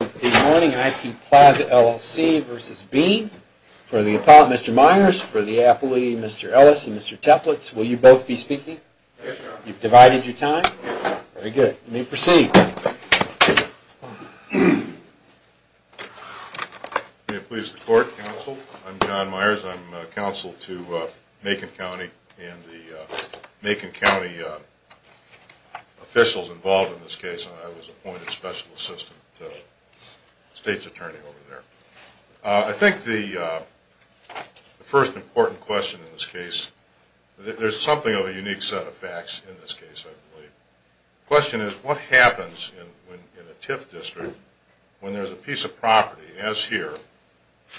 for the appellate, Mr. Myers, for the appellee, Mr. Ellis, and Mr. Teplitz. Will you both be speaking? You've divided your time? Very good. You may proceed. May it please the court, counsel. I'm John Myers. I'm counsel to Macon County and the Macon County officials involved in this case. I was appointed special assistant to the state's attorney over there. I think the first important question in this case, there's something of a unique set of facts in this case, I believe. The question is, what happens in a TIF district when there's a piece of property, as here,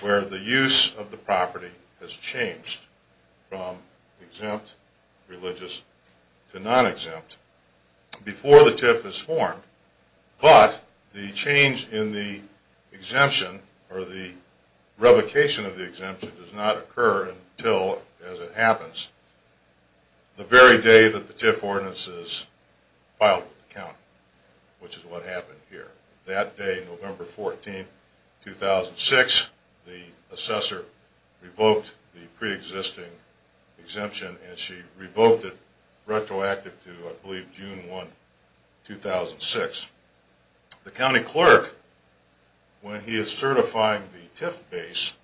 where the use of the property has changed from exempt, religious, to non-exempt, before the TIF is formed, but the change in the exemption, or the revocation of the exemption, does not occur until, as it happens, the very day that the TIF ordinance is filed with the county, which is what happened here. That day, November 14, 2006, the assessor revoked the pre-existing exemption, and she revoked it retroactively to, I believe, June 1, 2006. The county clerk, when he is certifying the TIF base,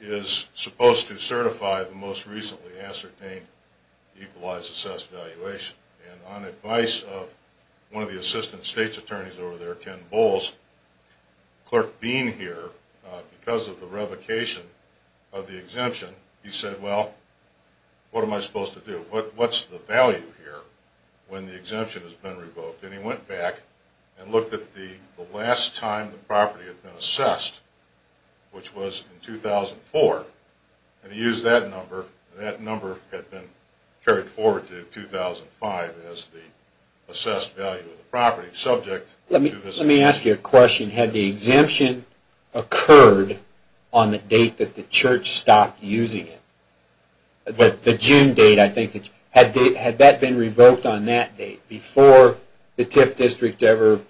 is supposed to certify the most recently ascertained Equalized Success Evaluation. And on advice of one of the assistant state's attorneys over there, Ken Bowles, the clerk being here, because of the revocation of the exemption, he said, well, what am I supposed to do? What's the value here when the exemption has been revoked? And he went back and looked at the last time the property had been assessed, which was in 2004, and he used that number, and that number had been assessed value of the property. Let me ask you a question. Had the exemption occurred on the date that the church stopped using it? Had that been revoked on that date, before the TIF district ever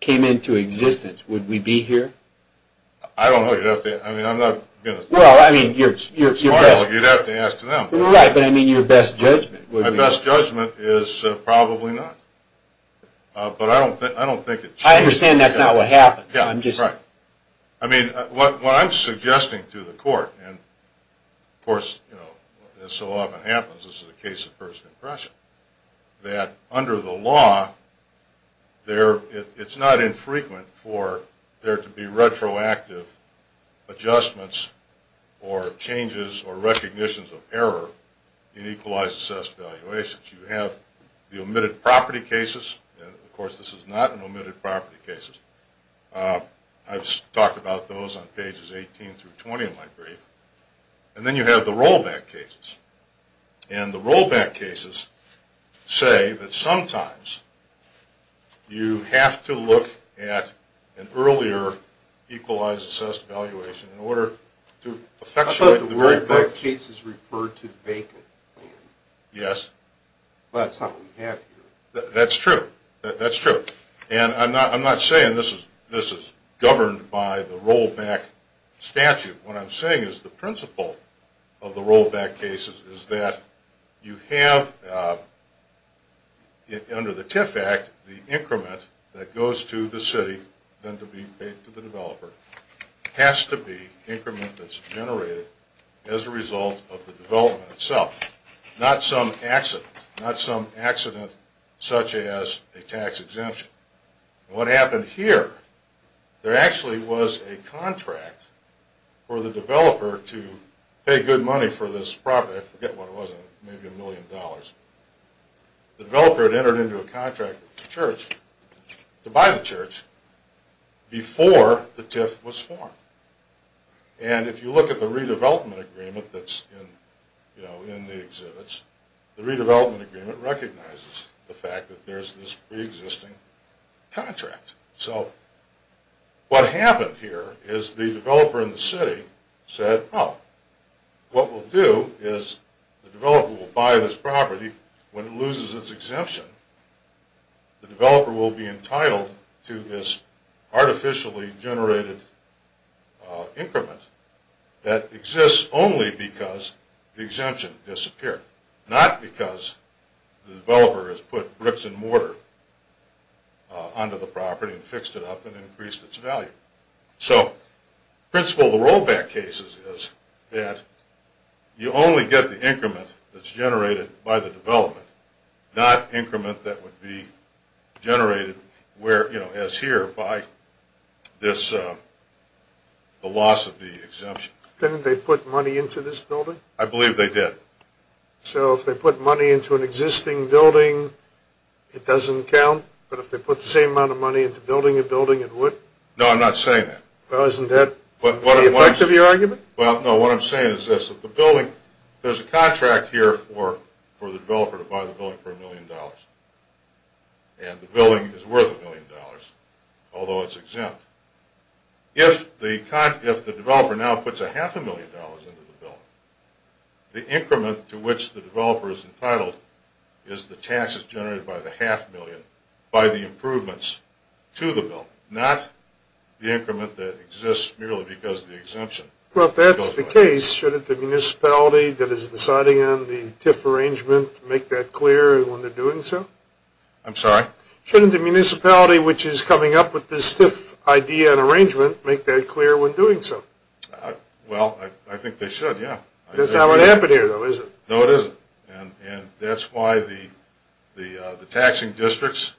came into existence, would we be here? I don't know. Well, I mean, you'd have to ask them. My best judgment is probably not. I understand that's not what happened. What I'm suggesting to the court, and this so often happens, this is a case of first impression, that under the law, it's not infrequent for there to be retroactive adjustments or changes or recognitions of error in Equalized Assessed Evaluations. You have the omitted property cases, and of course this is not an omitted property case. I've talked about those on pages 18 through 20 of my brief. And then you have the rollback cases, and the rollback cases say that sometimes you have to look at an earlier Equalized Assessed Evaluation in order to... I thought the rollback cases referred to vacant land. Yes. But that's not what we have here. That's true. And I'm not saying this is governed by the rollback statute. What I'm saying is the principle of the rollback cases is that you have under the TIF Act, the increment that goes to the city, then to the developer, has to be increment that's generated as a result of the development itself. Not some accident. Not some accident such as a tax exemption. What happened here, there actually was a contract for the developer to pay good money for this property. I forget what it was, maybe a million dollars. The developer had entered into a contract with the church to buy the church before the TIF was formed. And if you look at the redevelopment agreement that's in the exhibits, the redevelopment agreement recognizes the fact that there's this pre-existing contract. So what happened here is the developer in the city said, oh, what we'll do is the developer will buy this property when it loses its exemption. The developer will be entitled to this artificially generated increment that exists only because the exemption disappeared. Not because the developer has put bricks and mortar onto the property and fixed it up and increased its value. So the principle of the rollback cases is that you only get the increment that's generated by the development, not increment that would be generated, as here, by the loss of the exemption. Didn't they put money into this building? I believe they did. So if they put money into an existing building, it doesn't count? But if they put the same amount of money into building a building, it would? No, I'm not saying that. Well, isn't that the effect of your argument? Well, no, what I'm saying is this. The building, there's a contract here for the developer to buy the building for a million dollars, and the building is worth a million dollars, although it's exempt. If the developer now puts a half a million dollars into the building, the increment to which the developer is entitled is the taxes generated by the half million by the improvements to the building, not the increment that exists merely because of the exemption. Well, if that's the case, shouldn't the municipality that is deciding on the TIF arrangement make that clear when they're doing so? I'm sorry? Shouldn't the municipality which is coming up with this TIF idea and arrangement make that clear when doing so? Well, I think they should, yeah. That's not what happened here, though, is it? No, it isn't. And that's why the taxing districts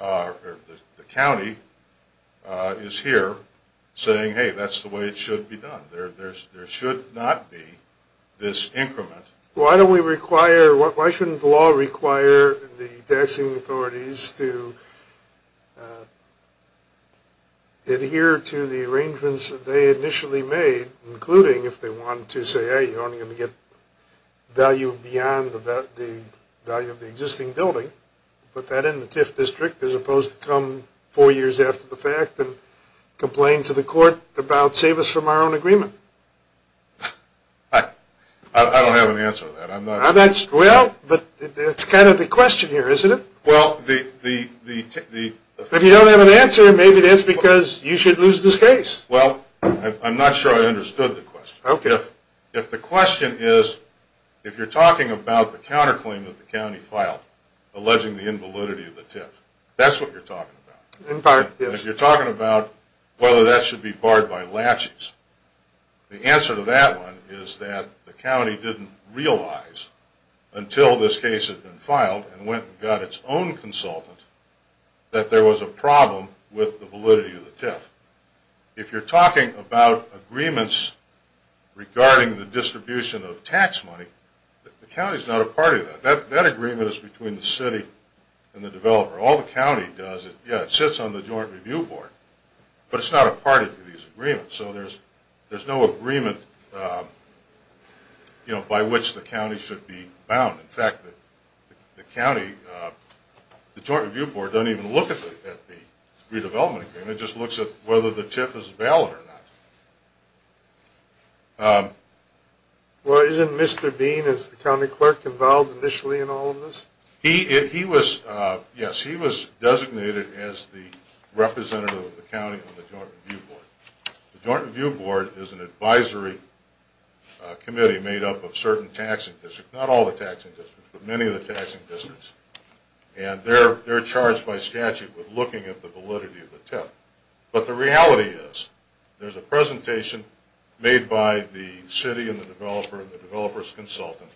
or the county is here saying, hey, that's the way it should be done. There should not be this increment. Why don't we require, why shouldn't the law require the taxing authorities to adhere to the arrangements that they initially made, including if they want to say, hey, you're only going to get value beyond the value of the existing building, put that in the TIF district as opposed to come four years after the fact and complain to the court about save us from our own agreement? I don't have an answer to that. Well, but that's kind of the question here, isn't it? Well, the... If you don't have an answer, maybe that's because you should lose this case. Well, I'm not sure I understood the question. Okay. If the question is, if you're talking about the counterclaim that the county filed alleging the invalidity of the TIF, that's what you're talking about. In part, yes. If you're talking about whether that should be barred by laches, the answer to that one is that the county didn't realize until this case had been filed and went and got its own consultant that there was a problem with the validity of the TIF. If you're talking about agreements regarding the distribution of tax money, the county is not a part of that. That agreement is between the city and the developer. All the county does is, yeah, it sits on the Joint Review Board, but it's not a part of these agreements. So there's no agreement by which the county should be bound. In fact, the county, the Joint Review Board doesn't even look at the redevelopment agreement. It just looks at whether the TIF is valid or not. Well, isn't Mr. Bean, as the county clerk, involved initially in all of this? He was, yes, he was designated as the representative of the county on the Joint Review Board. The Joint Review Board is an advisory committee made up of certain taxing districts, not all the taxing districts, but many of the taxing districts, and they're charged by statute with looking at the validity of the TIF. But the reality is there's a presentation made by the city and the developer and the developer's consultant,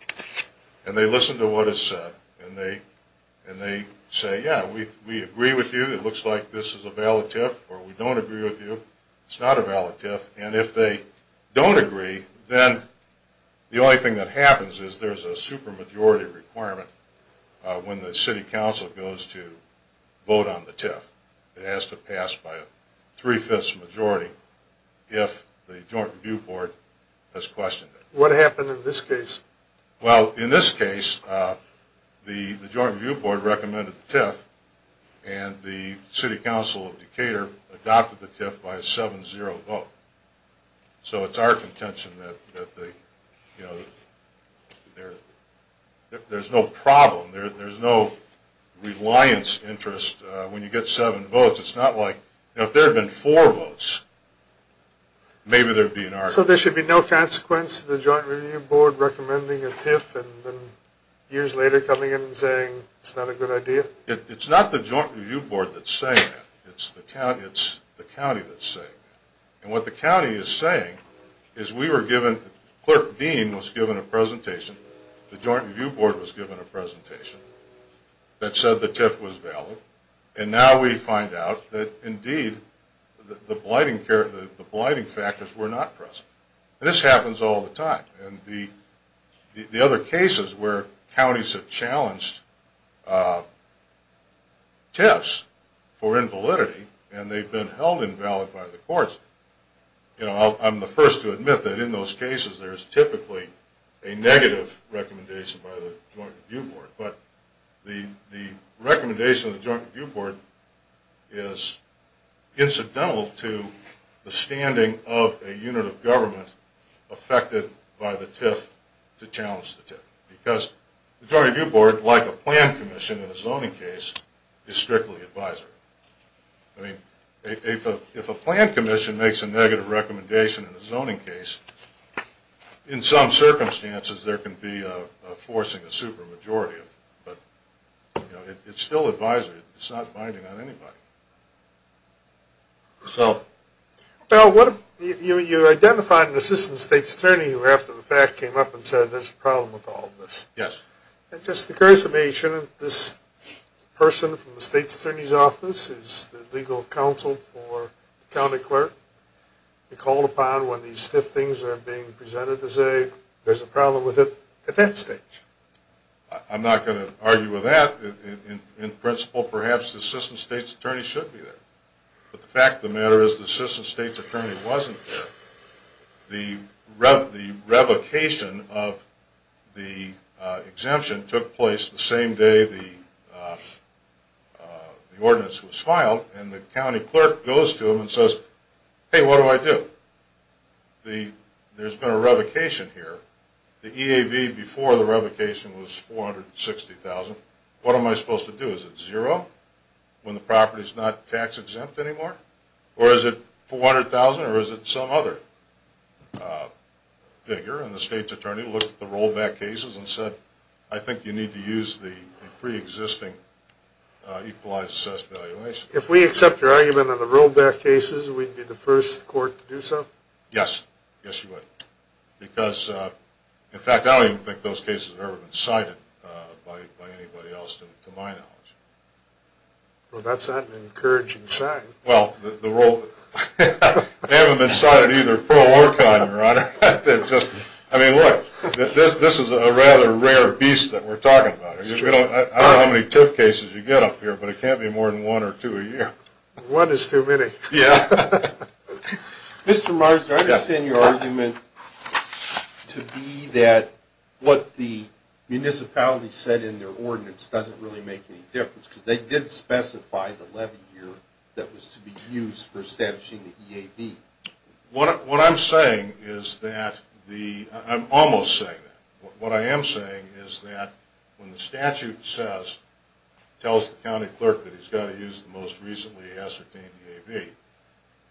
and they listen to what is said, and they say, yeah, we agree with you. It looks like this is a valid TIF, or we don't agree with you. It's not a valid TIF, and if they don't agree, then the only thing that happens is there's a supermajority requirement when the city council goes to vote on the TIF. It has to pass by a three-fifths majority if the Joint Review Board has questioned it. What happened in this case? Well, in this case, the Joint Review Board recommended the TIF, and the city council of Decatur adopted the TIF by a 7-0 vote. So it's our contention that there's no problem, there's no reliance interest when you get seven votes. It's not like if there had been four votes, maybe there would be an argument. So there should be no consequence to the Joint Review Board recommending a TIF and then years later coming in and saying it's not a good idea? It's not the Joint Review Board that's saying that. It's the county that's saying that. And what the county is saying is we were given, the clerk dean was given a presentation, the Joint Review Board was given a presentation that said the TIF was valid, and now we find out that indeed the blighting factors were not present. This happens all the time. And the other cases where counties have challenged TIFs for invalidity and they've been held invalid by the courts, I'm the first to admit that in those cases there's typically a negative recommendation by the Joint Review Board. But the recommendation of the Joint Review Board is incidental to the standing of a unit of government affected by the TIF to challenge the TIF, because the Joint Review Board, like a plan commission in a zoning case, is strictly advisory. I mean, if a plan commission makes a negative recommendation in a zoning case, in some circumstances there can be a forcing a supermajority. But it's still advisory. It's not binding on anybody. So... Well, you identified an assistant state's attorney who after the fact came up and said there's a problem with all of this. Yes. And just a curiosity, shouldn't this person from the state's attorney's office, who's the legal counsel for the county clerk, be called upon when these stiff things are being presented to say there's a problem with it at that stage? I'm not going to argue with that. In principle, perhaps the assistant state's attorney should be there. But the fact of the matter is the assistant state's attorney wasn't there. The revocation of the exemption took place the same day the ordinance was filed, and the county clerk goes to him and says, hey, what do I do? There's been a revocation here. What am I supposed to do? Is it zero when the property's not tax-exempt anymore? Or is it $400,000, or is it some other figure? And the state's attorney looked at the rollback cases and said, I think you need to use the preexisting equalized assessed valuation. If we accept your argument on the rollback cases, we'd be the first court to do so? Yes. Yes, you would. Because, in fact, I don't even think those cases have ever been cited by anybody else to my knowledge. Well, that's not an encouraging sign. Well, they haven't been cited either pro or con, Your Honor. I mean, look, this is a rather rare beast that we're talking about. I don't know how many TIF cases you get up here, but it can't be more than one or two a year. One is too many. Yeah. Mr. Marsden, I understand your argument to be that what the municipality said in their ordinance doesn't really make any difference, because they did specify the levy year that was to be used for establishing the EAB. What I'm saying is that the – I'm almost saying that. What I am saying is that when the statute says, tells the county clerk that he's got to use the most recently ascertained EAB,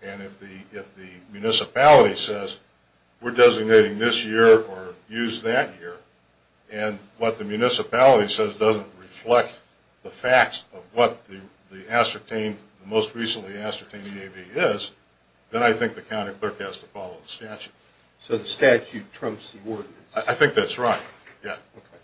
and if the municipality says, we're designating this year or use that year, and what the municipality says doesn't reflect the facts of what the ascertained, the most recently ascertained EAB is, then I think the county clerk has to follow the statute. So the statute trumps the ordinance. I think that's right. Yeah. Okay.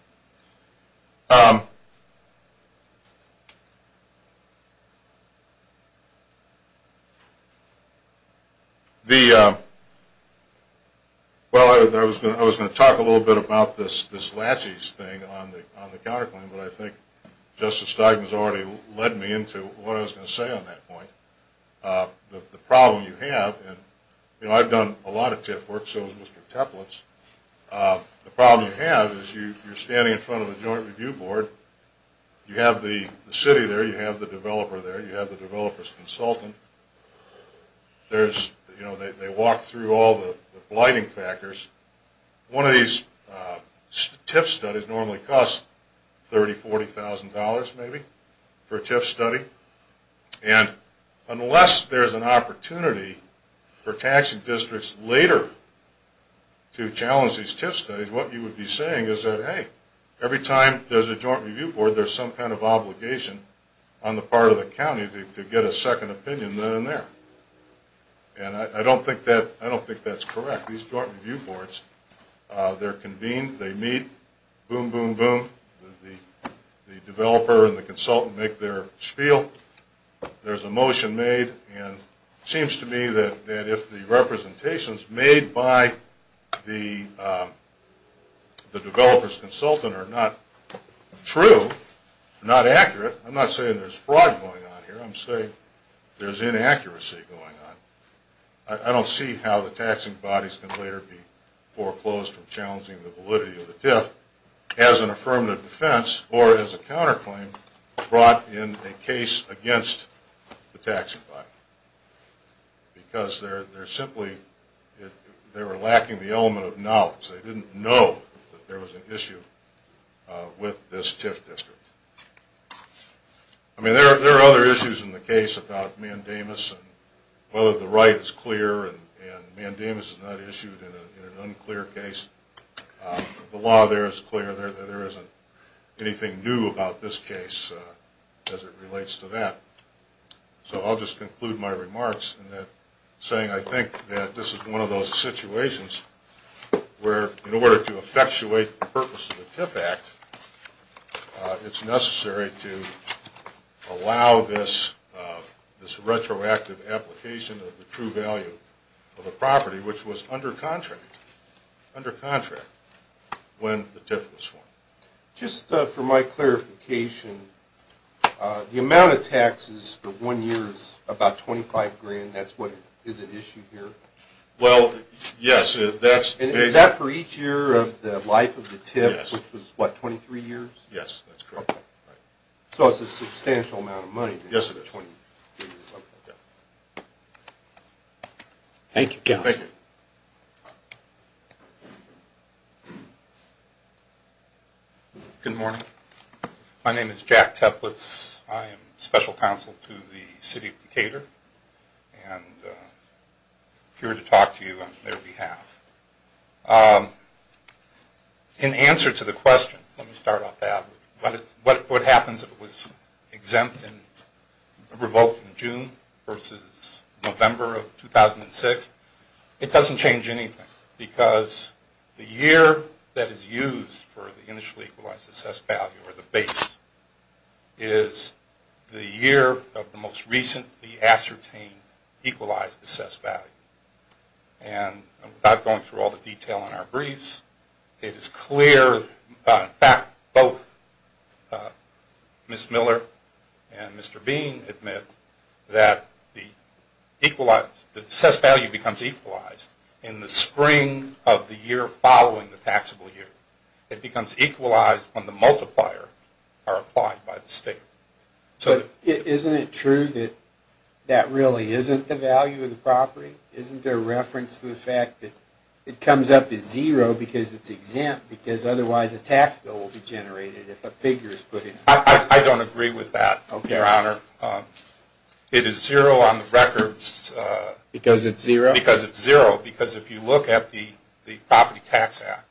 Well, I was going to talk a little bit about this laches thing on the counterclaim, but I think Justice Steigman has already led me into what I was going to say on that point. The problem you have, and I've done a lot of TIF work, so has Mr. Teplitz. The problem you have is you're standing in front of a joint review board. You have the city there. You have the developer there. You have the developer's consultant. There's – you know, they walk through all the blighting factors. One of these TIF studies normally costs $30,000, $40,000 maybe for a TIF study, and unless there's an opportunity for taxing districts later to challenge these TIF studies, what you would be saying is that, hey, every time there's a joint review board, there's some kind of obligation on the part of the county to get a second opinion then and there, and I don't think that's correct. These joint review boards, they're convened. They meet. Boom, boom, boom. The developer and the consultant make their spiel. There's a motion made, and it seems to me that if the representations made by the developer's consultant are not true, not accurate – I'm not saying there's fraud going on here. I'm saying there's inaccuracy going on. I don't see how the taxing bodies can later be foreclosed from challenging the validity of the TIF. As an affirmative defense, or as a counterclaim, brought in a case against the taxing body because they're simply – they were lacking the element of knowledge. They didn't know that there was an issue with this TIF district. I mean, there are other issues in the case about mandamus and whether the right is clear, and mandamus is not issued in an unclear case. The law there is clear. There isn't anything new about this case as it relates to that. So I'll just conclude my remarks in that saying I think that this is one of those situations where in order to effectuate the purpose of the TIF Act, it's necessary to allow this retroactive application of the true value of a property, which was under contract when the TIF was formed. Just for my clarification, the amount of taxes for one year is about $25,000. That's what – is at issue here? Well, yes. And is that for each year of the life of the TIF, which was, what, 23 years? Yes, that's correct. Yes, it is. Okay. Thank you, counsel. Thank you. Good morning. My name is Jack Teplitz. I am special counsel to the city of Decatur and here to talk to you on their behalf. In answer to the question, let me start off that, what happens if it was exempt and revoked in June versus November of 2006, it doesn't change anything because the year that is used for the initially equalized assessed value or the base is the year of the most recently ascertained equalized assessed value. And without going through all the detail in our briefs, it is clear that both Ms. Miller and Mr. Bean admit that the assessed value becomes equalized in the spring of the year following the taxable year. It becomes equalized when the multiplier are applied by the state. Isn't it true that that really isn't the value of the property? Isn't there reference to the fact that it comes up as zero because it's exempt because otherwise a tax bill will be generated if a figure is put in? I don't agree with that, Your Honor. It is zero on the records. Because it's zero? Because it's zero because if you look at the Property Tax Act,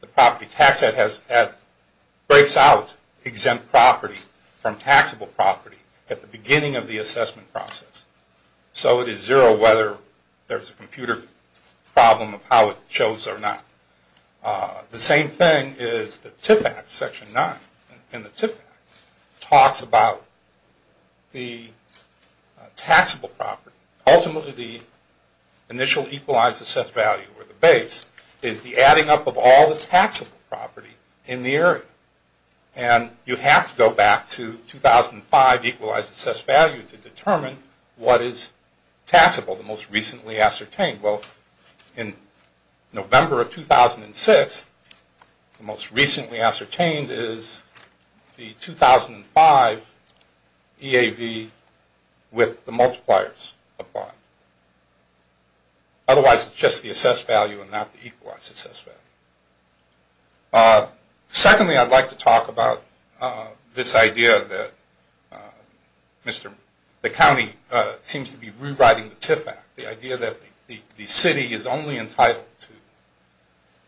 the Property Tax Act breaks out exempt property from taxable property at the beginning of the assessment process. So it is zero whether there's a computer problem of how it shows or not. The same thing is the TIF Act, Section 9 in the TIF Act, talks about the taxable property. Ultimately the initial equalized assessed value or the base is the adding up of all the taxable property in the area. And you have to go back to 2005 equalized assessed value to determine what is taxable, the most recently ascertained. Well, in November of 2006, the most recently ascertained is the 2005 EAV with the multipliers applied. Otherwise it's just the assessed value and not the equalized assessed value. Secondly, I'd like to talk about this idea that the county seems to be rewriting the TIF Act. The idea that the city is only entitled to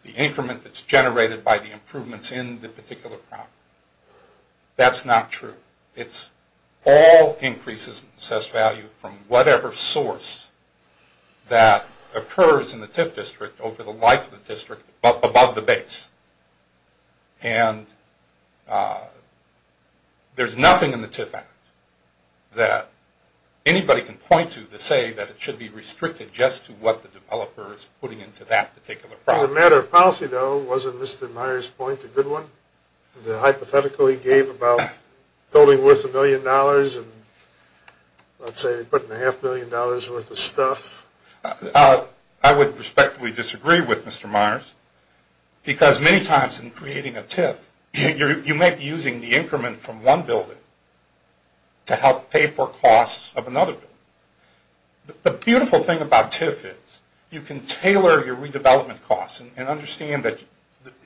the increment that's generated by the improvements in the particular property. That's not true. It's all increases in assessed value from whatever source that occurs in the TIF district over the life of the district above the base. And there's nothing in the TIF Act that anybody can point to to say that it should be restricted just to what the developer is putting into that particular property. As a matter of policy, though, wasn't Mr. Myers' point a good one? The hypothetical he gave about building worth a million dollars and let's say putting a half million dollars worth of stuff? I would respectfully disagree with Mr. Myers because many times in creating a TIF you may be using the increment from one building to help pay for costs of another building. The beautiful thing about TIF is you can tailor your redevelopment costs and understand that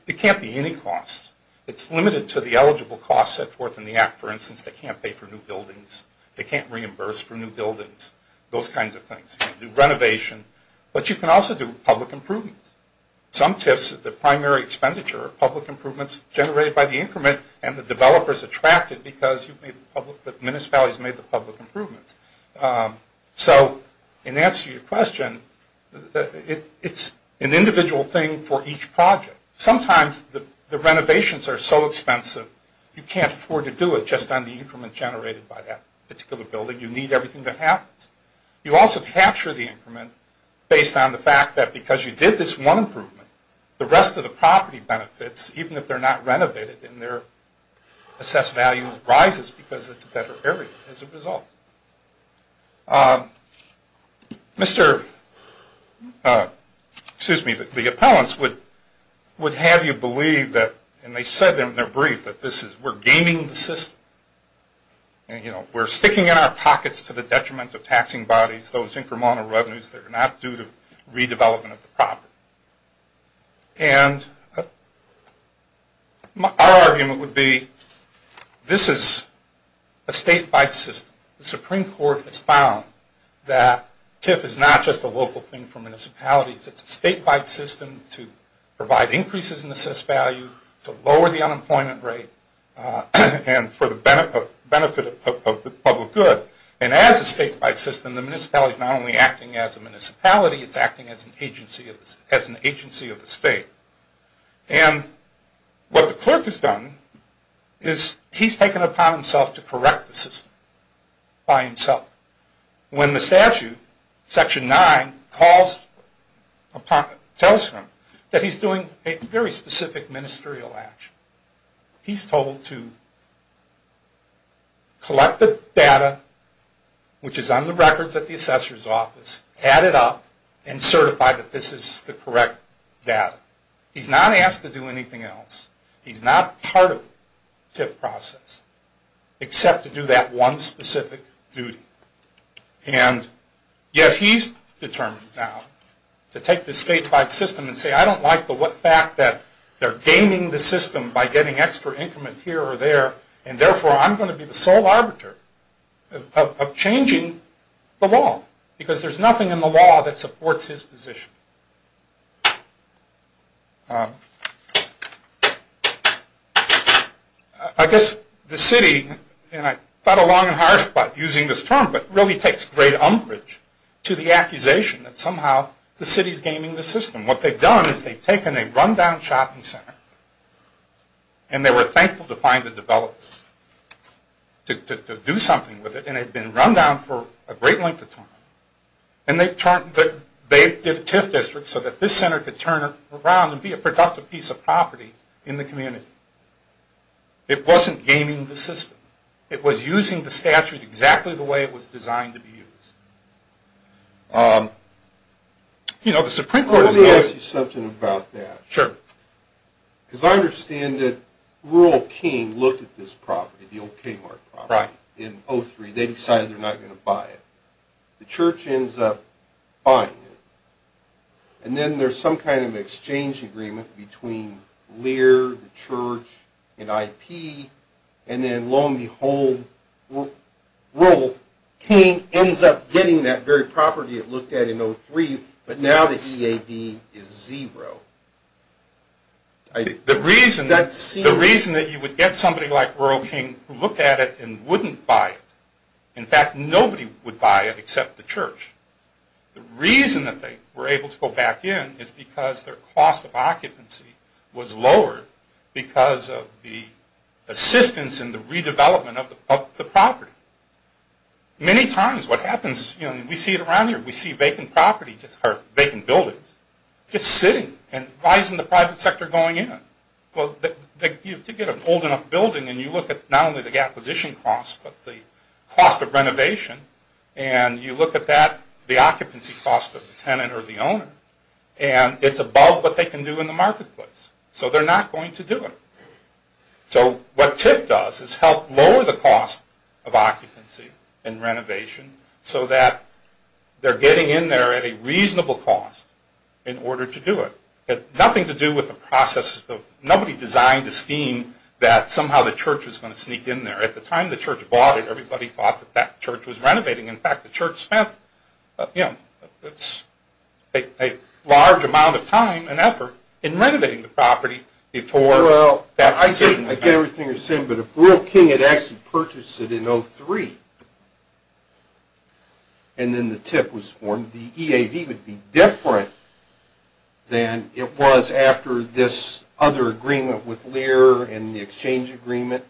it can't be any costs. It's limited to the eligible costs set forth in the Act. For instance, they can't pay for new buildings. They can't reimburse for new buildings, those kinds of things. You can do renovation, but you can also do public improvements. Some TIFs, the primary expenditure of public improvements generated by the increment and the developers attracted because the municipalities made the public improvements. So in answer to your question, it's an individual thing for each project. Sometimes the renovations are so expensive you can't afford to do it just on the increment generated by that particular building. You need everything that happens. You also capture the increment based on the fact that because you did this one improvement, the rest of the property benefits, even if they're not renovated in their assessed value, rises because it's a better area as a result. The appellants would have you believe that, and they said in their brief, that we're gaming the system. We're sticking in our pockets to the detriment of taxing bodies, those incremental revenues that are not due to redevelopment of the property. Our argument would be this is a state-wide system. The Supreme Court has found that TIF is not just a local thing for municipalities. It's a state-wide system to provide increases in assessed value, to lower the unemployment rate, and for the benefit of the public good. And as a state-wide system, the municipality is not only acting as a municipality, it's acting as an agency of the state. And what the clerk has done is he's taken it upon himself to correct the system by himself. When the statute, Section 9, tells him that he's doing a very specific ministerial action, he's told to collect the data, which is on the records at the assessor's office, add it up, and certify that this is the correct data. He's not asked to do anything else. He's not part of the TIF process, except to do that one specific duty. And yet he's determined now to take this state-wide system and say, I don't like the fact that they're gaming the system by getting extra increment here or there, and therefore I'm going to be the sole arbiter of changing the law, because there's nothing in the law that supports his position. I guess the city, and I thought long and hard about using this term, but it really takes great umbrage to the accusation that somehow the city's gaming the system. What they've done is they've taken a run-down shopping center, and they were thankful to find a developer to do something with it, and it had been run down for a great length of time. And they did a TIF district so that this center could turn around and be a productive piece of property in the community. It wasn't gaming the system. It was using the statute exactly the way it was designed to be used. Let me ask you something about that. Sure. Because I understand that Rural King looked at this property, the old Kmart property, in 2003. They decided they're not going to buy it. The church ends up buying it. And then there's some kind of exchange agreement between Lear, the church, and IP, and then lo and behold, Rural King ends up getting that very property it looked at in 2003, but now the EAD is zero. The reason that you would get somebody like Rural King who looked at it and wouldn't buy it, in fact, nobody would buy it except the church, the reason that they were able to go back in is because their cost of occupancy was lowered because of the assistance in the redevelopment of the property. Many times what happens, we see it around here, we see vacant buildings just sitting, and why isn't the private sector going in? Well, to get an old enough building, and you look at not only the acquisition cost, but the cost of renovation, and you look at that, the occupancy cost of the tenant or the owner, and it's above what they can do in the marketplace. So they're not going to do it. So what TIF does is help lower the cost of occupancy and renovation so that they're getting in there at a reasonable cost in order to do it. It had nothing to do with the process. Nobody designed a scheme that somehow the church was going to sneak in there. At the time the church bought it, everybody thought that that church was renovating. In fact, the church spent a large amount of time and effort in renovating the property before that decision was made. Well, I get everything you're saying, but if World King had actually purchased it in 2003, and then the TIF was formed, the EAD would be different than it was after this other agreement with Lear and the exchange agreement.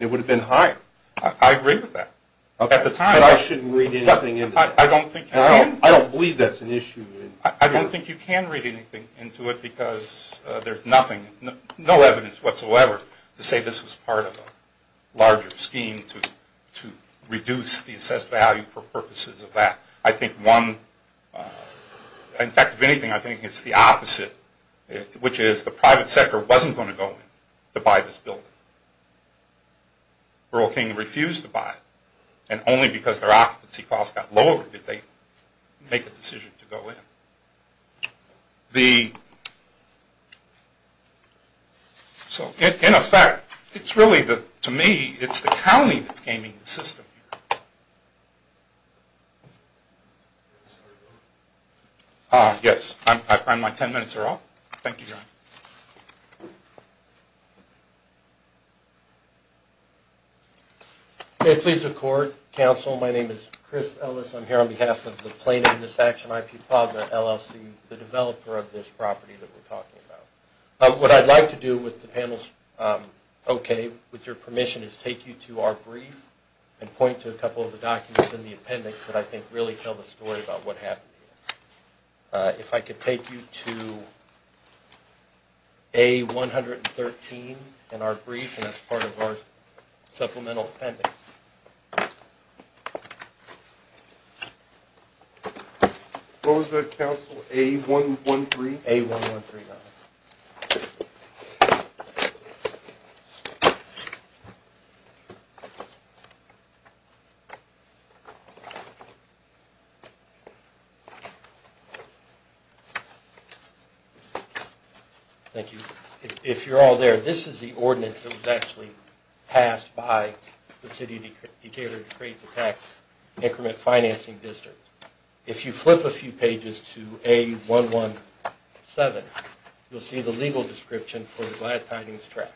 It would have been higher. I agree with that. But I shouldn't read anything into that. I don't think you can. I don't believe that's an issue. I don't think you can read anything into it because there's nothing, no evidence whatsoever to say this was part of a larger scheme to reduce the assessed value for purposes of that. In fact, if anything, I think it's the opposite, which is the private sector wasn't going to go in to buy this building. World King refused to buy it. And only because their occupancy cost got lower did they make the decision to go in. So in effect, it's really, to me, it's the county that's gaming the system here. Yes, I find my ten minutes are up. Thank you, John. May it please the Court, Counsel, my name is Chris Ellis. I'm here on behalf of the Plain Ignorance Action IP Plaza, LLC, the developer of this property that we're talking about. What I'd like to do with the panel's okay, with your permission, is take you to our brief and point to a couple of the documents in the appendix that I think really tell the story about what happened here. If I could take you to A113 in our brief and as part of our supplemental appendix. What was that, Counsel? A113? Thank you. If you're all there, this is the ordinance that was actually passed by the City of Decatur to create the Tax Increment Financing District. If you flip a few pages to A117, you'll see the legal description for the Glad Tidings Tract.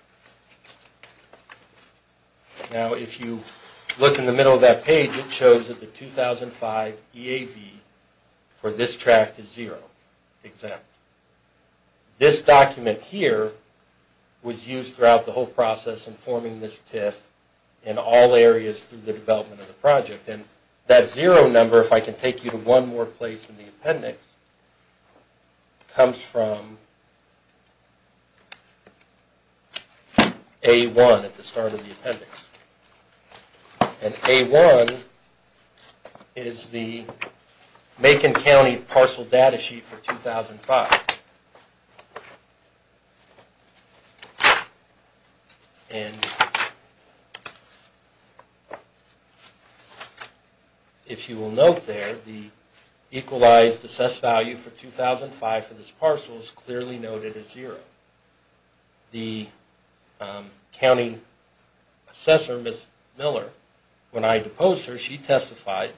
Now, if you look in the middle of that page, it shows that the 2005 EAV, for this tract, is zero exempt. This document here was used throughout the whole process in forming this TIF in all areas through the development of the project. And that zero number, if I can take you to one more place in the appendix, comes from A1 at the start of the appendix. And A1 is the Macon County parcel data sheet for 2005. If you will note there, the equalized assessed value for 2005 for this parcel is clearly noted as zero. The county assessor, Ms. Miller, when I deposed her, she testified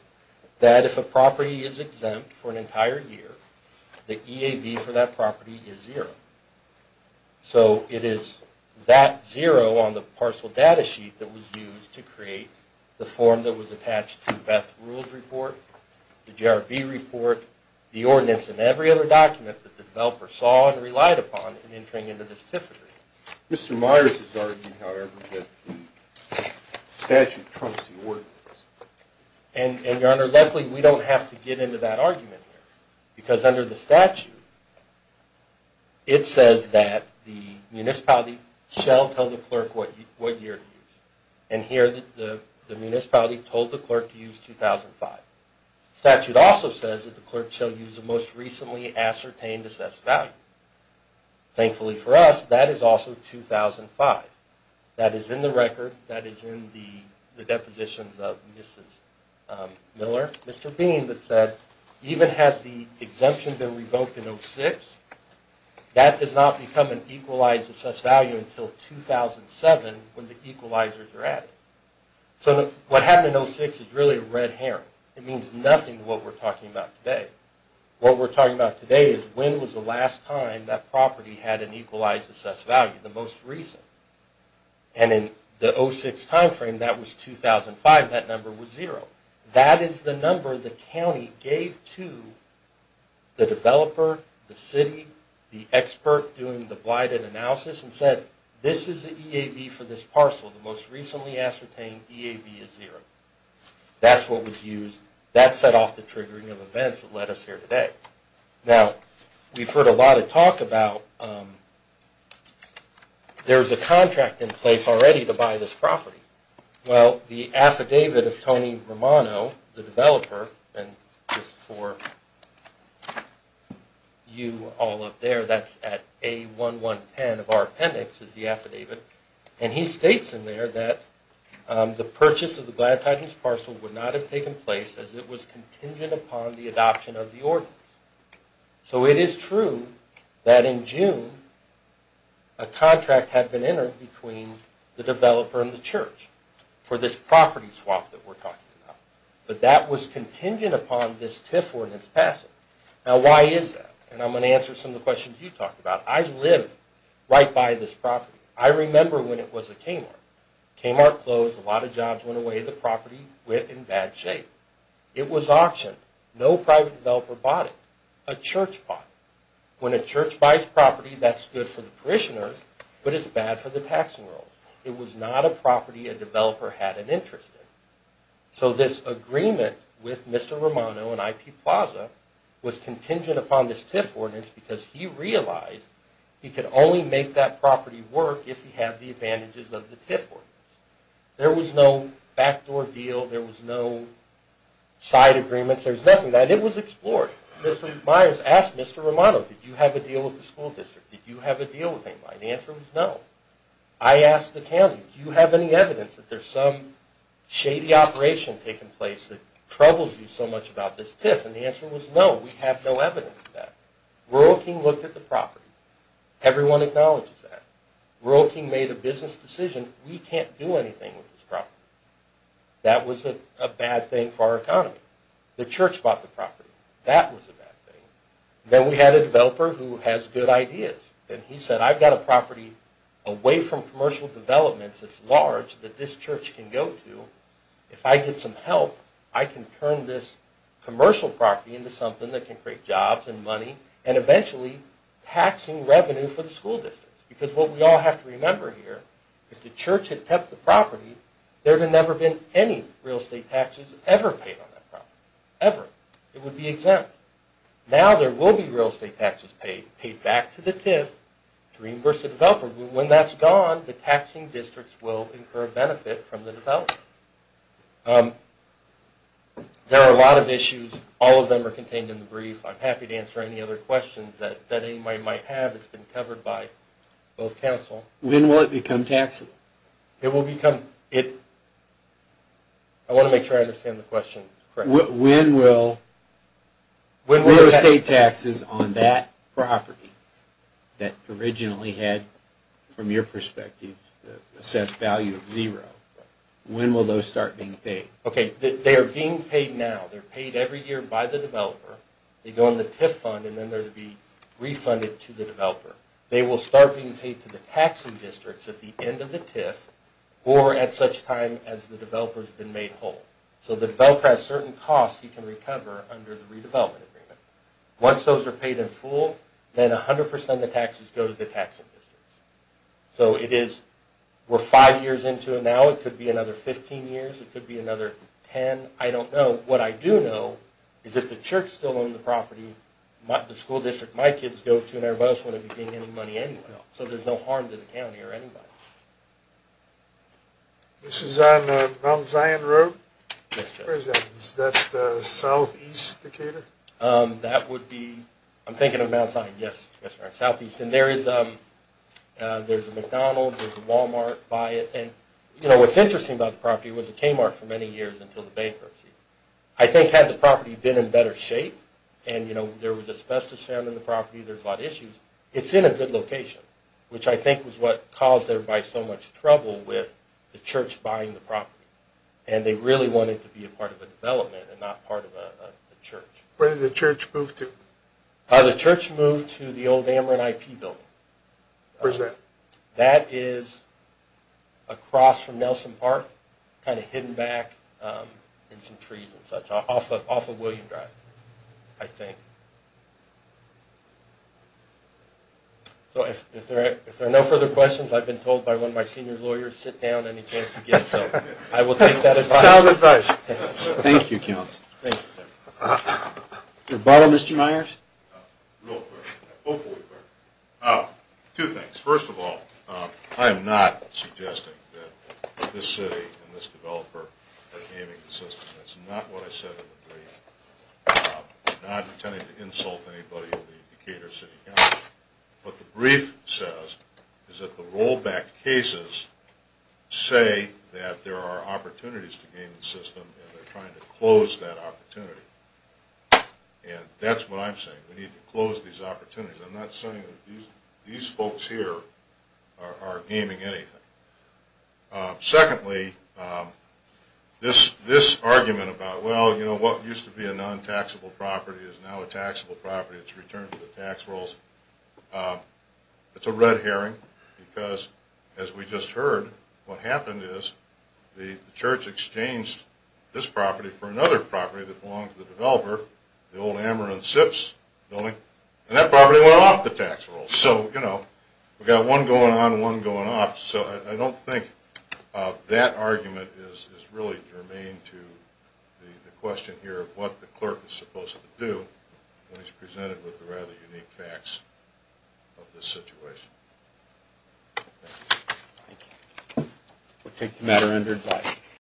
that if a property is exempt for an entire year, the EAV for that property is zero. So it is that zero on the parcel data sheet that was used to create the form that was attached to Beth's Rules Report, the GRB report, the ordinance, and every other document that the developer saw and relied upon in entering into this TIF agreement. Mr. Myers has argued, however, that the statute trumps the ordinance. And, Your Honor, luckily we don't have to get into that argument here. Because under the statute, it says that the municipality shall tell the clerk what year to use it. And here the municipality told the clerk to use 2005. The statute also says that the clerk shall use the most recently ascertained assessed value. Thankfully for us, that is also 2005. That is in the record, that is in the depositions of Ms. Miller. Mr. Bean said, even has the exemption been revoked in 06, that does not become an equalized assessed value until 2007 when the equalizers are added. So what happened in 06 is really a red herring. It means nothing to what we're talking about today. What we're talking about today is when was the last time that property had an equalized assessed value, the most recent. And in the 06 timeframe, that was 2005, that number was zero. That is the number the county gave to the developer, the city, the expert doing the blighted analysis and said, this is the EAB for this parcel. The most recently ascertained EAB is zero. That's what was used. That set off the triggering of events that led us here today. Now, we've heard a lot of talk about there's a contract in place already to buy this property. Well, the affidavit of Tony Romano, the developer, and just for you all up there, that's at A1110 of our appendix is the affidavit. And he states in there that the purchase of the Gladtide Hills parcel would not have taken place as it was contingent upon the adoption of the ordinance. So it is true that in June a contract had been entered between the developer and the church for this property swap that we're talking about. But that was contingent upon this TIF ordinance passing. Now, why is that? And I'm going to answer some of the questions you talked about. I live right by this property. I remember when it was a Kmart. Kmart closed, a lot of jobs went away, the property went in bad shape. It was auctioned. No private developer bought it. A church bought it. When a church buys property, that's good for the parishioners, but it's bad for the tax enrolls. It was not a property a developer had an interest in. So this agreement with Mr. Romano and IP Plaza was contingent upon this TIF ordinance because he realized he could only make that property work if he had the advantages of the TIF ordinance. There was no backdoor deal. There was no side agreements. There's nothing. It was explored. Mr. Myers asked Mr. Romano, did you have a deal with the school district? Did you have a deal with AIMI? The answer was no. I asked the county, do you have any evidence that there's some shady operation taking place that troubles you so much about this TIF? And the answer was no. We have no evidence of that. Rural King looked at the property. Everyone acknowledges that. Rural King made a business decision. We can't do anything with this property. That was a bad thing for our economy. The church bought the property. That was a bad thing. Then we had a developer who has good ideas. He said, I've got a property away from commercial developments that's large that this church can go to. If I get some help, I can turn this commercial property into something that can create jobs and money and eventually taxing revenue for the school district. Because what we all have to remember here, if the church had kept the property, there would have never been any real estate taxes ever paid on that property. Ever. It would be exempt. Now there will be real estate taxes paid, paid back to the TIF to reimburse the developer. When that's gone, the taxing districts will incur a benefit from the developer. There are a lot of issues. All of them are contained in the brief. I'm happy to answer any other questions that anybody might have. It's been covered by both counsel. When will it become taxable? It will become. I want to make sure I understand the question correctly. When will real estate taxes on that property that originally had, from your perspective, assessed value of zero, when will those start being paid? Okay, they are being paid now. They're paid every year by the developer. They go in the TIF fund and then they'll be refunded to the developer. They will start being paid to the taxing districts at the end of the TIF or at such time as the developer has been made whole. So the developer has certain costs he can recover under the redevelopment agreement. Once those are paid in full, then 100% of the taxes go to the taxing districts. So it is, we're five years into it now. It could be another 15 years. It could be another 10. I don't know. What I do know is if the church still owns the property, the school district my kids go to and everybody else wouldn't be paying any money anyway. So there's no harm to the county or anybody. This is on Mount Zion Road? Yes, sir. Where is that? Is that southeast, Decatur? That would be, I'm thinking of Mount Zion, yes. That's right, southeast. And there is a McDonald's, there's a Walmart by it. And, you know, what's interesting about the property, it was a Kmart for many years until the bankruptcy. I think had the property been in better shape and, you know, there was asbestos found in the property, there's a lot of issues, it's in a good location, which I think was what caused everybody so much trouble with the church buying the property. And they really wanted it to be a part of a development and not part of a church. Where did the church move to? The church moved to the old Ameren IP building. Where's that? That is across from Nelson Park, kind of hidden back in some trees and such, off of William Drive, I think. So if there are no further questions, I've been told by one of my senior lawyers, sit down any chance you get. So I will take that advice. Sound advice. Thank you, Counsel. Thank you, Jim. Your bottle, Mr. Myers? Real quick, hopefully quick. Two things. First of all, I am not suggesting that this city and this developer are gaming the system. That's not what I said in the brief. I'm not intending to insult anybody in the Decatur City Council. What the brief says is that the rollback cases say that there are opportunities to game the system, and they're trying to close that opportunity. And that's what I'm saying. We need to close these opportunities. I'm not saying that these folks here are gaming anything. Secondly, this argument about, well, you know, what used to be a non-taxable property is now a taxable property. It's returned to the tax rolls. It's a red herring because, as we just heard, what happened is the church exchanged this property for another property that belonged to the developer, the old Ameron Sips building, and that property went off the tax rolls. So, you know, we've got one going on and one going off. So I don't think that argument is really germane to the question here of what the clerk is supposed to do when he's presented with the rather unique facts of this situation. Thank you. Thank you. We'll take the matter under advice.